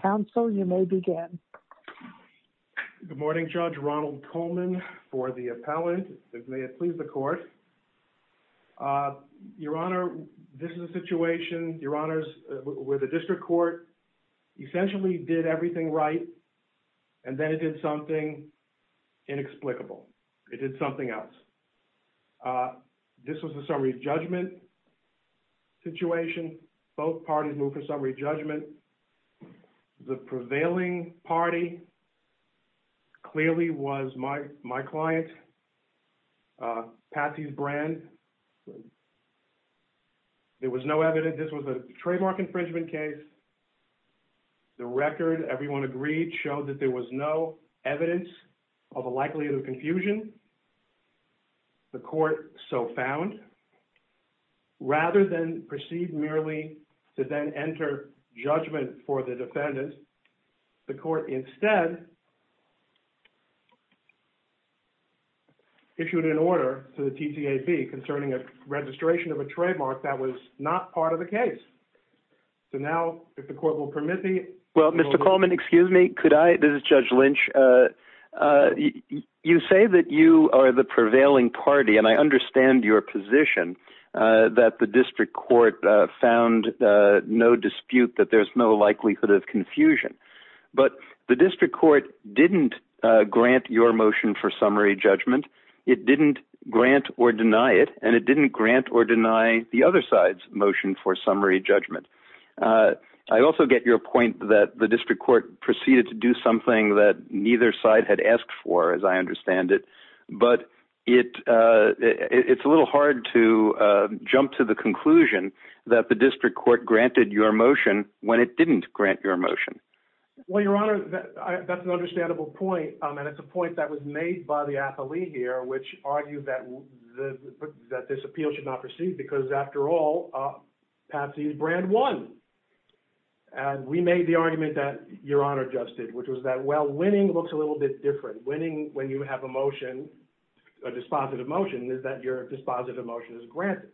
Counsel, you may begin. Good morning, Judge. Ronald Coleman for the appellant. May it please the court. Your Honor, this is a situation where the district court essentially did everything right and then it did something inexplicable. It did something else. This was a summary judgment situation. Both parties moved for summary judgment. The prevailing party clearly was my client, Patsy's Brand. There was no evidence. This was a trademark infringement case. The record, everyone agreed, showed that there was no evidence of a likelihood of confusion. The court so found. Rather than proceed merely to then enter judgment for the defendant, the court instead issued an order to the TTAB concerning a registration of a trademark that was not part of the case. So now, if the court will permit me. Well, Mr. Coleman, excuse me. Could I? This is Judge Lynch. You say that you are the prevailing party and I understand your position that the district court found no dispute that there's no likelihood of confusion. But the district court didn't grant your motion for summary judgment. It didn't grant or deny it, and it didn't grant or deny the other side's motion for summary judgment. I also get your point that the district court proceeded to do something that neither side had asked for, as I understand it. But it it's a little hard to jump to the conclusion that the district court granted your motion when it didn't grant your motion. Well, Your Honor, that's an understandable point. And it's a point that was made by the athlete here, which argued that this appeal should not proceed because, after all, Patsy's brand won. And we made the argument that Your Honor just did, which was that, well, winning looks a little bit different. Winning when you have a motion, a dispositive motion, is that your dispositive motion is granted.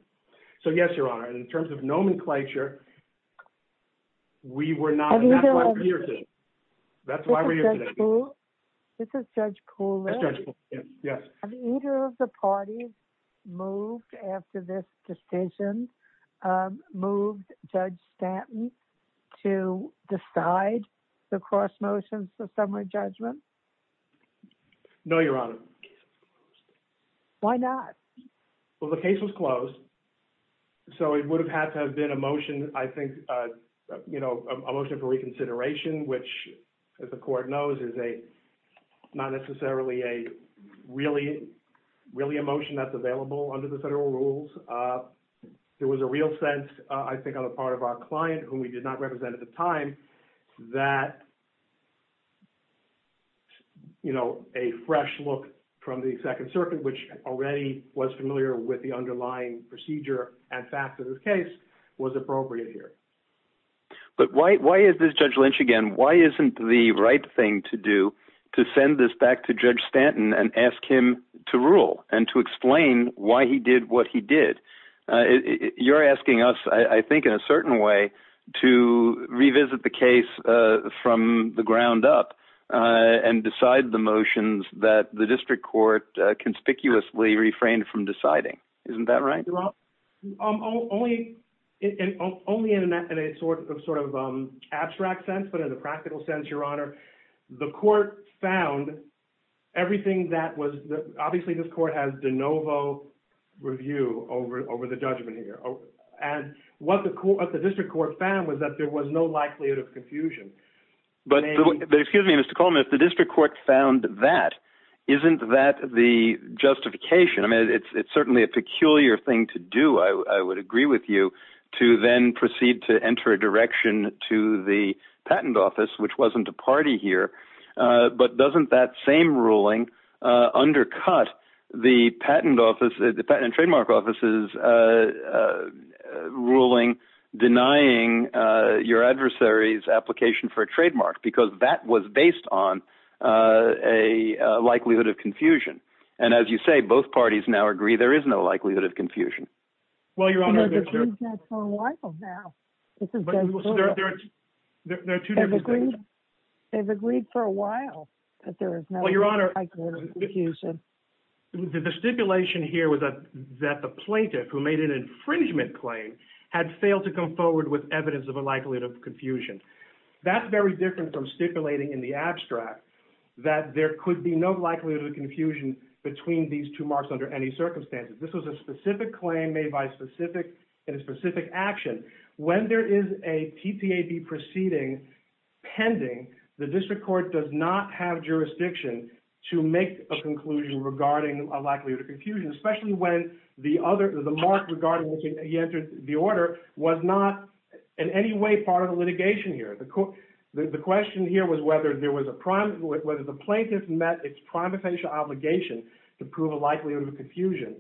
So, yes, Your Honor, in terms of nomenclature, we were not, and that's why we're here today. This is Judge Kuhlman. Yes. Have either of the parties moved after this decision, moved Judge Stanton to decide the cross motions for summary judgment? No, Your Honor. Why not? Well, the case was closed, so it would have had to have been a motion, I think, you know, a motion for reconsideration, which, as the court knows, is not necessarily really a motion that's available under the federal rules. There was a real sense, I think, on the part of our client, whom we did not represent at the time, that, you know, a fresh look from the Second Circuit, which already was familiar with the underlying procedure and fact of this case, was appropriate here. But why is this, Judge Lynch, again, why isn't the right thing to do to send this back to Judge Stanton and ask him to rule and to explain why he did what he did? You're asking us, I think, in a certain way, to revisit the case from the ground up and decide the motions that the district court conspicuously refrained from deciding. Isn't that right? Only in a sort of abstract sense, but in a practical sense, Your Honor, the court found everything that was – obviously, this court has de novo review over the judgment here. And what the district court found was that there was no likelihood of confusion. But, excuse me, Mr. Coleman, if the district court found that, isn't that the justification? I mean, it's certainly a peculiar thing to do, I would agree with you, to then proceed to enter a direction to the patent office, which wasn't a party here. But doesn't that same ruling undercut the patent and trademark office's ruling denying your adversary's application for a trademark? Because that was based on a likelihood of confusion. And as you say, both parties now agree there is no likelihood of confusion. Well, Your Honor – They've agreed for a while now. There are two different – They've agreed for a while that there is no likelihood of confusion. Well, Your Honor, the stipulation here was that the plaintiff, who made an infringement claim, had failed to come forward with evidence of a likelihood of confusion. That's very different from stipulating in the abstract that there could be no likelihood of confusion between these two marks under any circumstances. This was a specific claim made by a specific – in a specific action. When there is a TTAB proceeding pending, the district court does not have jurisdiction to make a conclusion regarding a likelihood of confusion, especially when the other – the mark regarding which he entered the order was not in any way part of the litigation here. The question here was whether there was a – whether the plaintiff met its primitive obligation to prove a likelihood of confusion.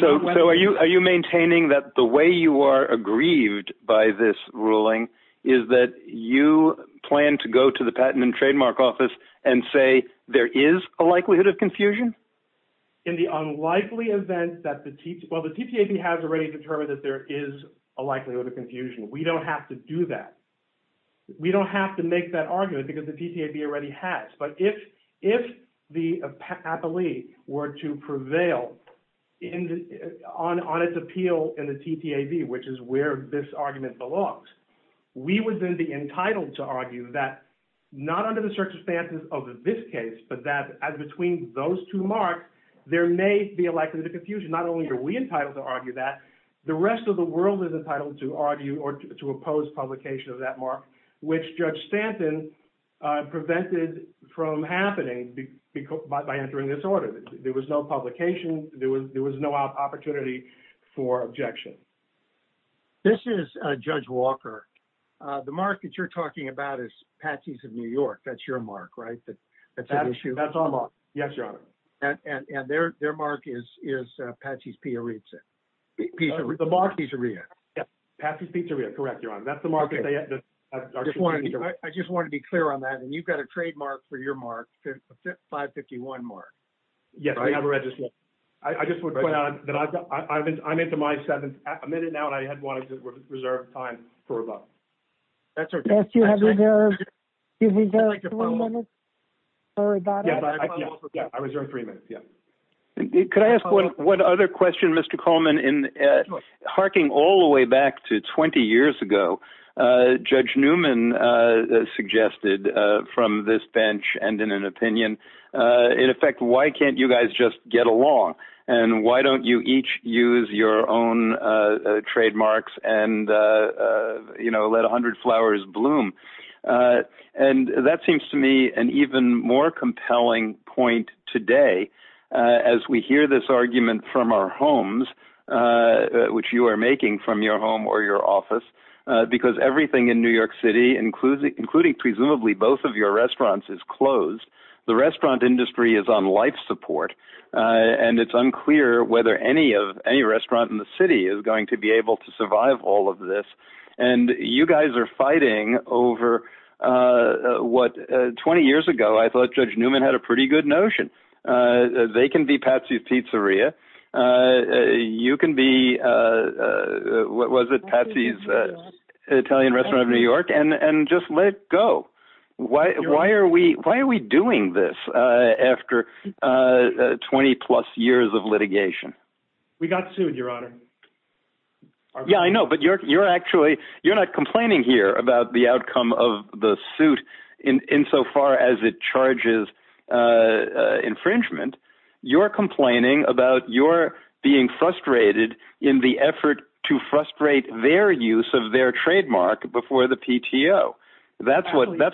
So are you maintaining that the way you are aggrieved by this ruling is that you plan to go to the patent and trademark office and say there is a likelihood of confusion? In the unlikely event that the – well, the TTAB has already determined that there is a likelihood of confusion. We don't have to do that. We don't have to make that argument because the TTAB already has. But if the appellee were to prevail on its appeal in the TTAB, which is where this argument belongs, we would then be entitled to argue that not under the circumstances of this case, but that as between those two marks, there may be a likelihood of confusion. Not only are we entitled to argue that, the rest of the world is entitled to argue or to oppose publication of that mark, which Judge Stanton prevented from happening by entering this order. There was no publication. There was no opportunity for objection. This is Judge Walker. The mark that you're talking about is Patsy's of New York. That's your mark, right? That's an issue. That's our mark. Yes, Your Honor. And their mark is Patsy's Pizzeria. Patsy's Pizzeria. Patsy's Pizzeria. Correct, Your Honor. That's the mark that they – I just want to be clear on that. And you've got a trademark for your mark, 551 mark. Yes, I have a registration. I just would point out that I'm into my seventh minute now, and I had wanted to reserve time for a vote. That's okay. I asked you to reserve three minutes for a vote. I reserve three minutes, yes. Could I ask one other question, Mr. Coleman? Sure. Harking all the way back to 20 years ago, Judge Newman suggested from this bench and in an opinion, in effect, why can't you guys just get along? And why don't you each use your own trademarks and, you know, let a hundred flowers bloom? And that seems to me an even more compelling point today as we hear this argument from our homes, which you are making from your home or your office, because everything in New York City, including presumably both of your restaurants, is closed. The restaurant industry is on life support, and it's unclear whether any restaurant in the city is going to be able to survive all of this. And you guys are fighting over what 20 years ago I thought Judge Newman had a pretty good notion. They can be Patsy's Pizzeria. You can be, what was it, Patsy's Italian Restaurant of New York, and just let it go. Why are we doing this after 20-plus years of litigation? We got sued, Your Honor. Yeah, I know, but you're not complaining here about the outcome of the suit insofar as it charges infringement. You're complaining about your being frustrated in the effort to frustrate their use of their trademark before the PTO. That's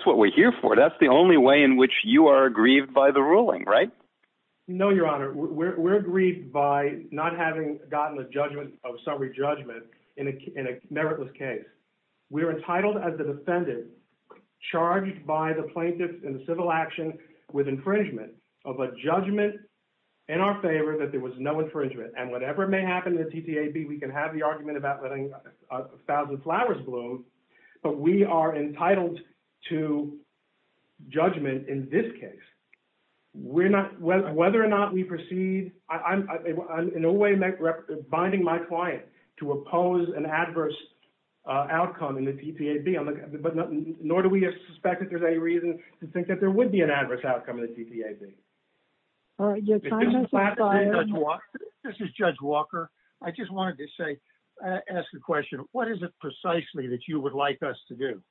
what we're here for. That's the only way in which you are aggrieved by the ruling, right? No, Your Honor. We're aggrieved by not having gotten a judgment of summary judgment in a meritless case. We're entitled as a defendant charged by the plaintiff in the civil action with infringement of a judgment in our favor that there was no infringement. And whatever may happen in the TTAB, we can have the argument about letting a thousand flowers bloom, but we are entitled to judgment in this case. Whether or not we proceed, I'm in no way binding my client to oppose an adverse outcome in the TTAB, nor do we suspect that there's any reason to think that there would be an adverse outcome in the TTAB. Your time has expired. This is Judge Walker. I just wanted to ask a question. What is it precisely that you would like us to do?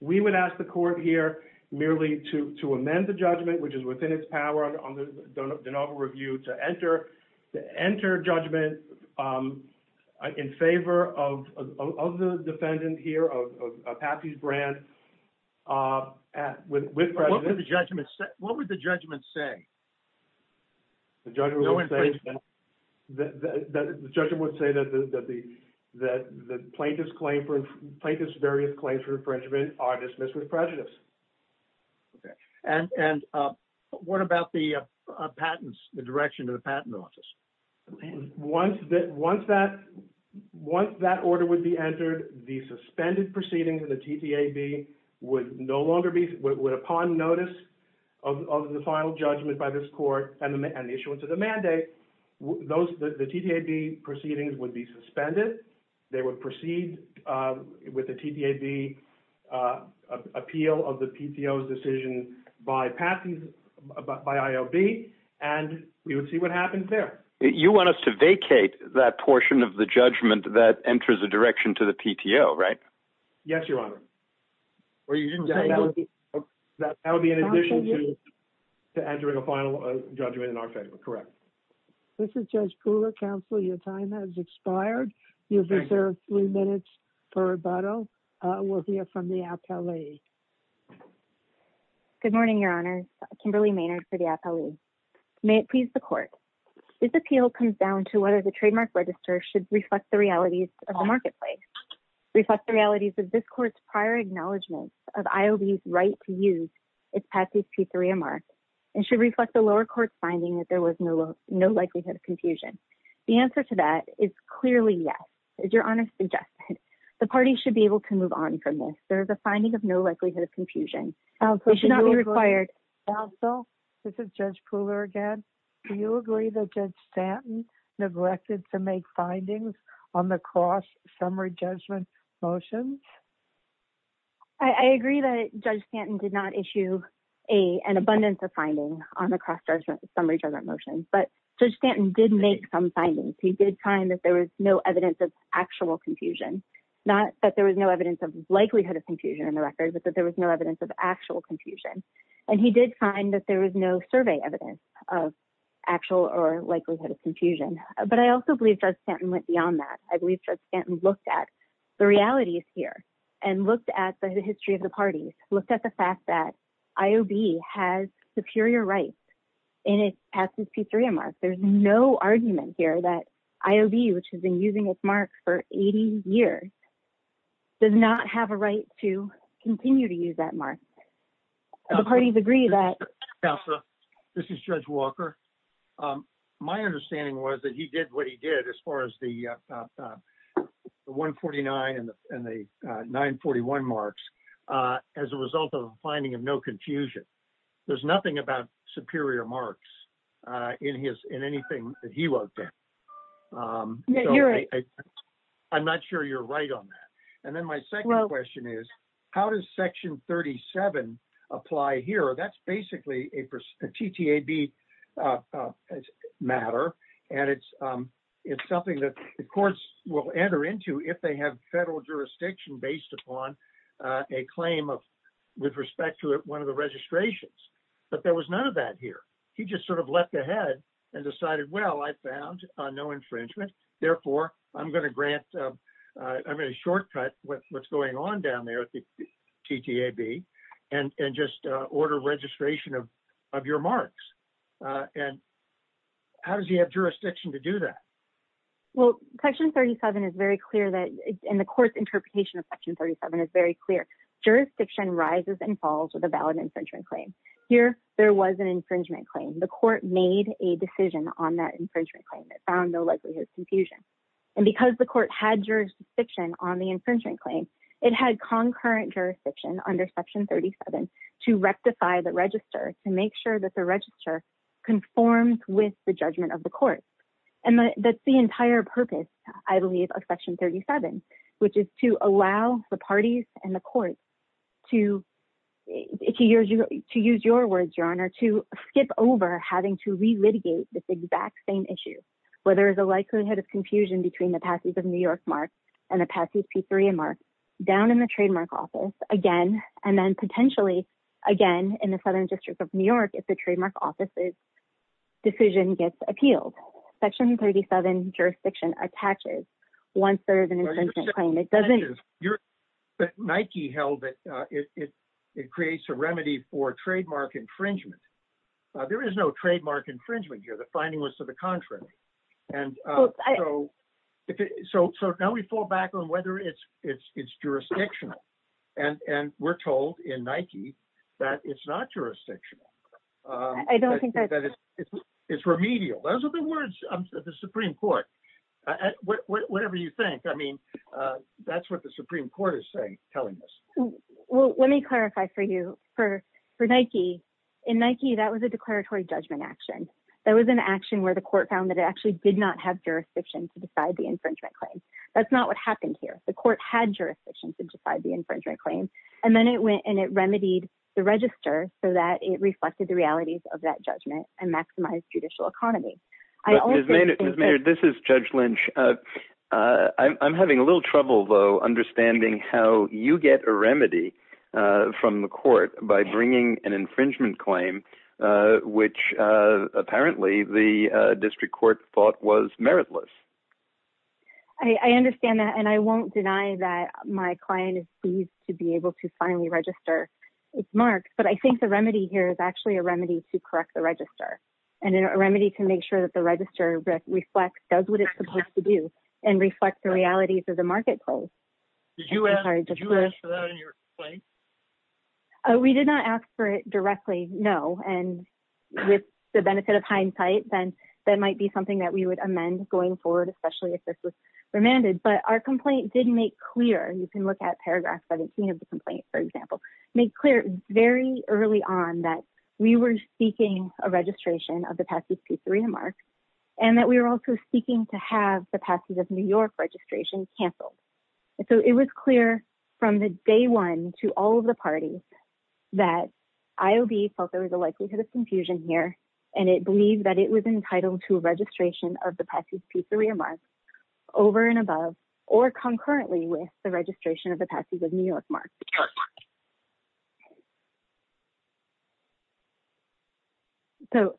We would ask the court here merely to amend the judgment, which is within its power under the denial of review, to enter judgment in favor of the defendant here, of Patsy Brand, with prejudice. What would the judgment say? The judgment would say that the plaintiff's various claims for infringement are dismissed with prejudice. Okay. And what about the direction of the patent office? Once that order would be entered, the suspended proceedings of the TTAB would no longer be – would, upon notice of the final judgment by this court and the issuance of the mandate, the TTAB proceedings would be suspended. They would proceed with the TTAB appeal of the PTO's decision by IOB, and we would see what happens there. You want us to vacate that portion of the judgment that enters a direction to the PTO, right? Yes, Your Honor. That would be in addition to entering a final judgment in our favor. Correct. This is Judge Kula. Counsel, your time has expired. You have reserved three minutes for rebuttal. We'll hear from the appellee. Good morning, Your Honor. My name is Kimberly Maynard for the appellee. May it please the court. This appeal comes down to whether the trademark register should reflect the realities of the marketplace, reflect the realities of this court's prior acknowledgment of IOB's right to use its patent P3MR, and should reflect the lower court's finding that there was no likelihood of confusion. The answer to that is clearly yes, as Your Honor suggested. The parties should be able to move on from this. There is a finding of no likelihood of confusion. Counsel, this is Judge Kula again. Do you agree that Judge Stanton neglected to make findings on the cross-summary judgment motions? I agree that Judge Stanton did not issue an abundance of findings on the cross-summary judgment motions, but Judge Stanton did make some findings. He did find that there was no evidence of actual confusion, not that there was no evidence of likelihood of confusion in the record, but that there was no evidence of actual confusion. And he did find that there was no survey evidence of actual or likelihood of confusion. But I also believe Judge Stanton went beyond that. I believe Judge Stanton looked at the realities here and looked at the history of the parties, looked at the fact that IOB has superior rights in its patent P3MR. There is no argument here that IOB, which has been using its mark for 80 years, does not have a right to continue to use that mark. Do the parties agree that – Counsel, this is Judge Walker. My understanding was that he did what he did as far as the 149 and the 941 marks as a result of a finding of no confusion. There's nothing about superior marks in anything that he wrote there. I'm not sure you're right on that. And then my second question is, how does Section 37 apply here? That's basically a TTAB matter, and it's something that the courts will enter into if they have federal jurisdiction based upon a claim with respect to one of the registrations. But there was none of that here. He just sort of leapt ahead and decided, well, I found no infringement, therefore I'm going to grant – I'm going to shortcut what's going on down there at the TTAB and just order registration of your marks. And how does he have jurisdiction to do that? Well, Section 37 is very clear that – and the court's interpretation of Section 37 is very clear. Jurisdiction rises and falls with a valid infringement claim. Here there was an infringement claim. The court made a decision on that infringement claim. It found no likelihood of confusion. And because the court had jurisdiction on the infringement claim, it had concurrent jurisdiction under Section 37 to rectify the register, to make sure that the register conforms with the judgment of the court. And that's the entire purpose, I believe, of Section 37, which is to allow the parties and the courts to use your words, Your Honor, to skip over having to re-litigate this exact same issue, where there is a likelihood of confusion between the passes of New York marks and the passes P-3 and marks down in the trademark office again, and then potentially again in the Southern District of New York if the trademark office's decision gets appealed. Section 37 jurisdiction attaches one-third of an infringement claim. It doesn't – But Nike held that it creates a remedy for trademark infringement. There is no trademark infringement here. The finding was to the contrary. And so now we fall back on whether it's jurisdictional. And we're told in Nike that it's not jurisdictional. I don't think that's – It's remedial. Those are the words of the Supreme Court. Whatever you think. I mean, that's what the Supreme Court is telling us. Well, let me clarify for you. For Nike, in Nike, that was a declaratory judgment action. That was an action where the court found that it actually did not have jurisdiction to decide the infringement claim. That's not what happened here. The court had jurisdiction to decide the infringement claim. And then it went and it remedied the register so that it reflected the realities of that judgment and maximized judicial economy. But, Ms. Maynard, this is Judge Lynch. I'm having a little trouble, though, understanding how you get a remedy from the court by bringing an infringement claim, which apparently the district court thought was meritless. I understand that. And I won't deny that my client is pleased to be able to finally register. It's marked. But I think the remedy here is actually a remedy to correct the register and a remedy to make sure that the register reflects – does what it's supposed to do and reflect the realities of the marketplace. Did you ask for that in your claim? We did not ask for it directly, no. And with the benefit of hindsight, then that might be something that we would amend going forward, especially if this was remanded. But our complaint did make clear – you can look at paragraph 17 of the complaint, for example – make clear very early on that we were seeking a registration of the passage of the remarks and that we were also seeking to have the passage of New York registration canceled. So it was clear from the day one to all of the parties that IOB felt there was an entitlement to a registration of the passage of the remarks over and above or concurrently with the registration of the passage of New York remarks. So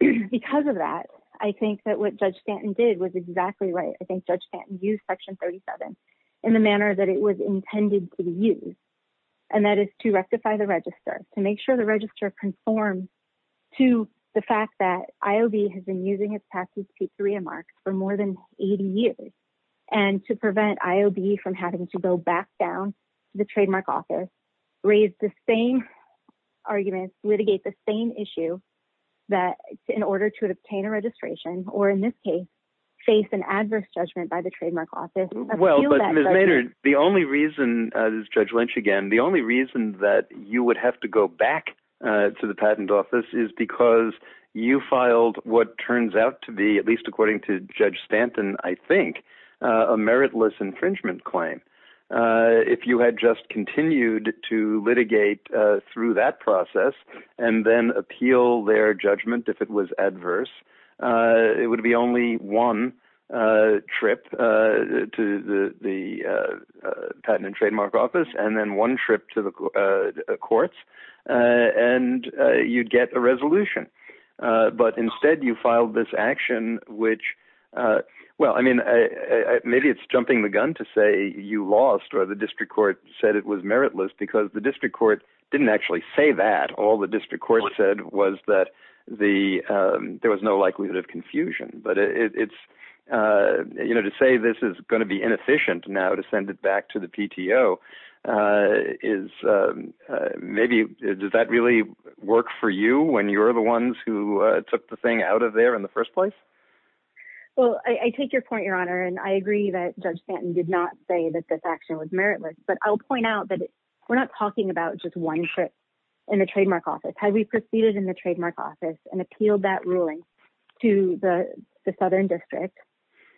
because of that, I think that what Judge Stanton did was exactly right. I think Judge Stanton used Section 37 in the manner that it was intended to conform to the fact that IOB has been using its passage to remarks for more than 80 years and to prevent IOB from having to go back down to the trademark office, raise the same arguments, litigate the same issue in order to obtain a registration, or in this case face an adverse judgment by the trademark office. Well, but Ms. Maynard, the only reason – this is Judge Lynch again – the only reason to go back to the patent office is because you filed what turns out to be, at least according to Judge Stanton, I think, a meritless infringement claim. If you had just continued to litigate through that process and then appeal their judgment if it was adverse, it would be only one trip to the patent and trademark office and then one trip to the courts and you'd get a resolution. But instead you filed this action which – well, I mean, maybe it's jumping the gun to say you lost or the district court said it was meritless because the district court didn't actually say that. All the district court said was that there was no likelihood of confusion. But to say this is going to be inefficient now to send it back to the PTO is maybe – does that really work for you when you're the ones who took the thing out of there in the first place? Well, I take your point, Your Honor, and I agree that Judge Stanton did not say that this action was meritless. But I'll point out that we're not talking about just one trip in the trademark office. Had we proceeded in the trademark office and appealed that ruling to the southern district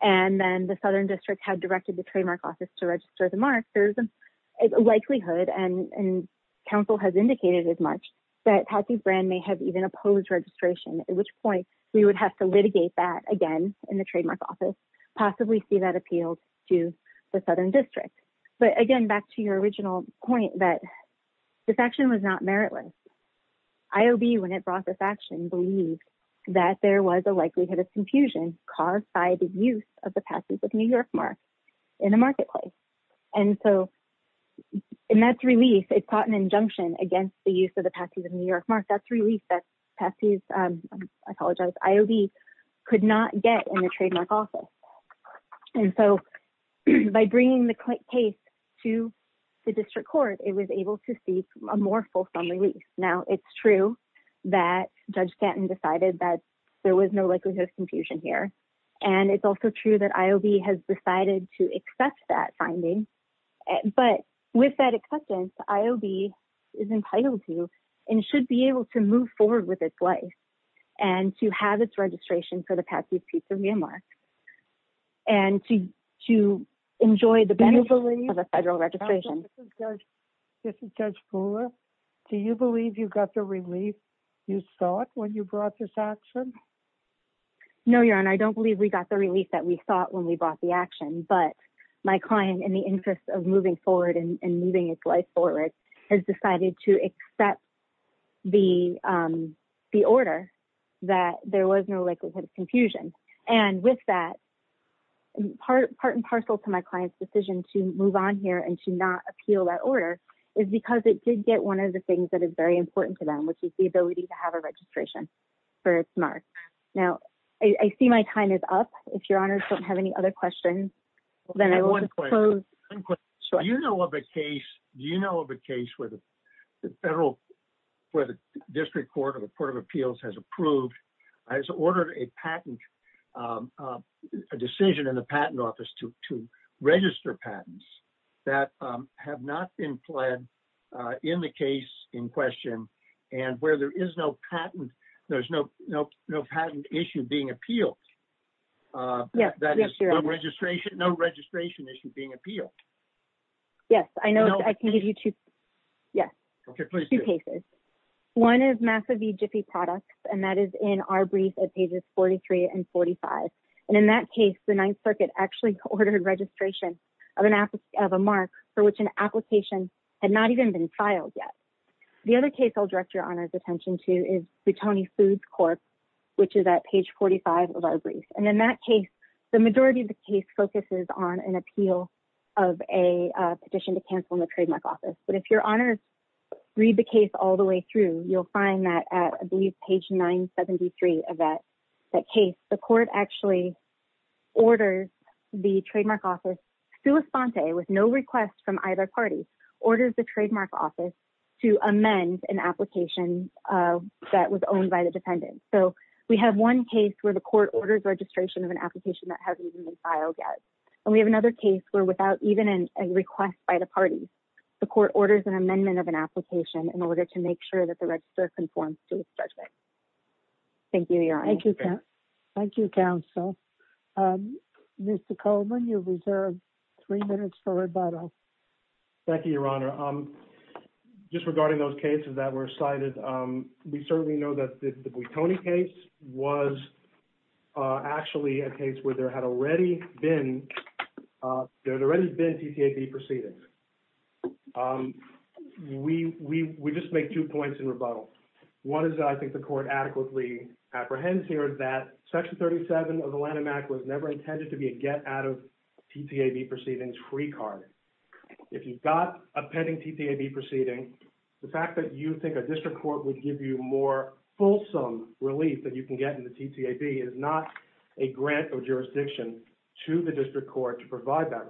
and then the southern district had directed the trademark office to register the mark, there's a likelihood, and counsel has indicated as much, that Patsy Brand may have even opposed registration, at which point we would have to litigate that again in the trademark office, possibly see that appealed to the southern district. But, again, back to your original point that this action was not meritless. IOB, when it brought this action, believed that there was a likelihood of confusion caused by the use of the Patsy's of New York mark in the marketplace. And so in that release, it caught an injunction against the use of the Patsy's of New York mark. That's released that Patsy's, I apologize, IOB could not get in the trademark office. And so by bringing the case to the district court, it was able to seek a more fulsome release. Now it's true that Judge Stanton decided that there was no likelihood of confusion here. And it's also true that IOB has decided to accept that finding. But with that acceptance, IOB is entitled to and should be able to move forward with its life and to have its registration for the Patsy's of New York. And to, to enjoy the benefits of a federal registration. This is Judge Fuller. Do you believe you got the relief you thought when you brought this action? No, your honor. I don't believe we got the relief that we thought when we brought the action, but my client, in the interest of moving forward and moving its life forward has decided to accept the, the order that there was no likelihood of confusion. And with that part, part and parcel to my client's decision to move on here and to not appeal that order is because it did get one of the things that is very important to them, which is the ability to have a registration for its mark. Now I see my time is up. If your honors don't have any other questions. Do you know of a case, do you know of a case where the federal, where the district court or the court of appeals has approved. I just ordered a patent, a decision in the patent office to, to register patents that have not been pled in the case in question. And where there is no patent, there's no, no, no patent issue being appealed. Yeah. No registration issue being appealed. Yes. I know. I can give you two. Yeah. Okay. One is massively Jiffy products. And that is in our brief at pages 43 and 45. And in that case, the ninth circuit actually ordered registration of an app of a mark for which an application. Had not even been filed yet. The other case I'll direct your honors attention to is the Tony foods court. Which is at page 45 of our brief. And in that case, the majority of the case focuses on an appeal. Of a petition to cancel in the trademark office. But if your honors. Read the case all the way through. You'll find that. I believe page nine 73 of that. That case, the court actually. Orders the trademark office. To amend an application. That was owned by the defendant. So we have one case where the court orders registration of an application that hasn't been filed yet. And we have another case where without even a request by the party. The court orders an amendment of an application in order to make sure that the register conforms to the judgment. Thank you. Thank you. Thank you. I see the motion fall in, sir. Next up. You have three minutes. As a council. Mr. Coleman you've. Three minutes for rebuttal. Thank you, your honor. Just regarding those cases that were cited, we certainly know that the. Tony case was. Actually a case where there had already been. There's already been TTFE proceedings. We. We just make two points in rebuttal. One is that I think the court adequately apprehends here that. Section 37 of Atlanta Mac was never intended to be a get out of. TTAB proceedings free card. If you've got a pending TTAB proceeding. The fact that you think a district court would give you more. Fulsome relief that you can get in the TTAB is not. A grant or jurisdiction. To the district court to provide that.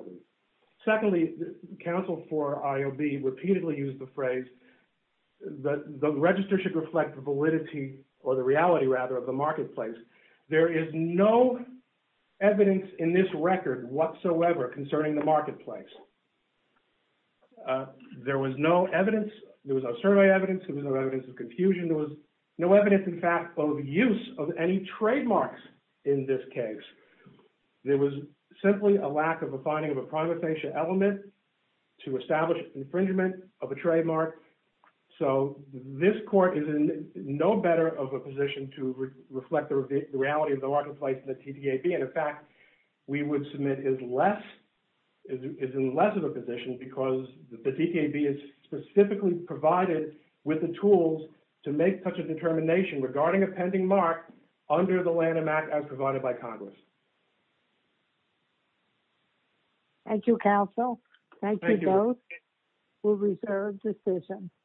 Secondly, counsel for IOB repeatedly used the phrase. The register should reflect the validity or the reality rather of the marketplace. There is no evidence in this record whatsoever concerning the marketplace. There was no evidence. There was a survey evidence. It was no evidence of confusion. There was no evidence. In fact of use of any trademarks. In this case. There was simply a lack of a finding of a primary facial element. And there was no evidence of confusion. To establish infringement of a trademark. So this court is in. No better of a position to reflect the reality of the marketplace and the TTAB. And in fact. We would submit is less. Is in less of a position because the TTAB is. Specifically provided with the tools. To make such a determination regarding a pending mark. Under the land of Mac as provided by Congress. Thank you. Council. Thank you. We'll reserve decision.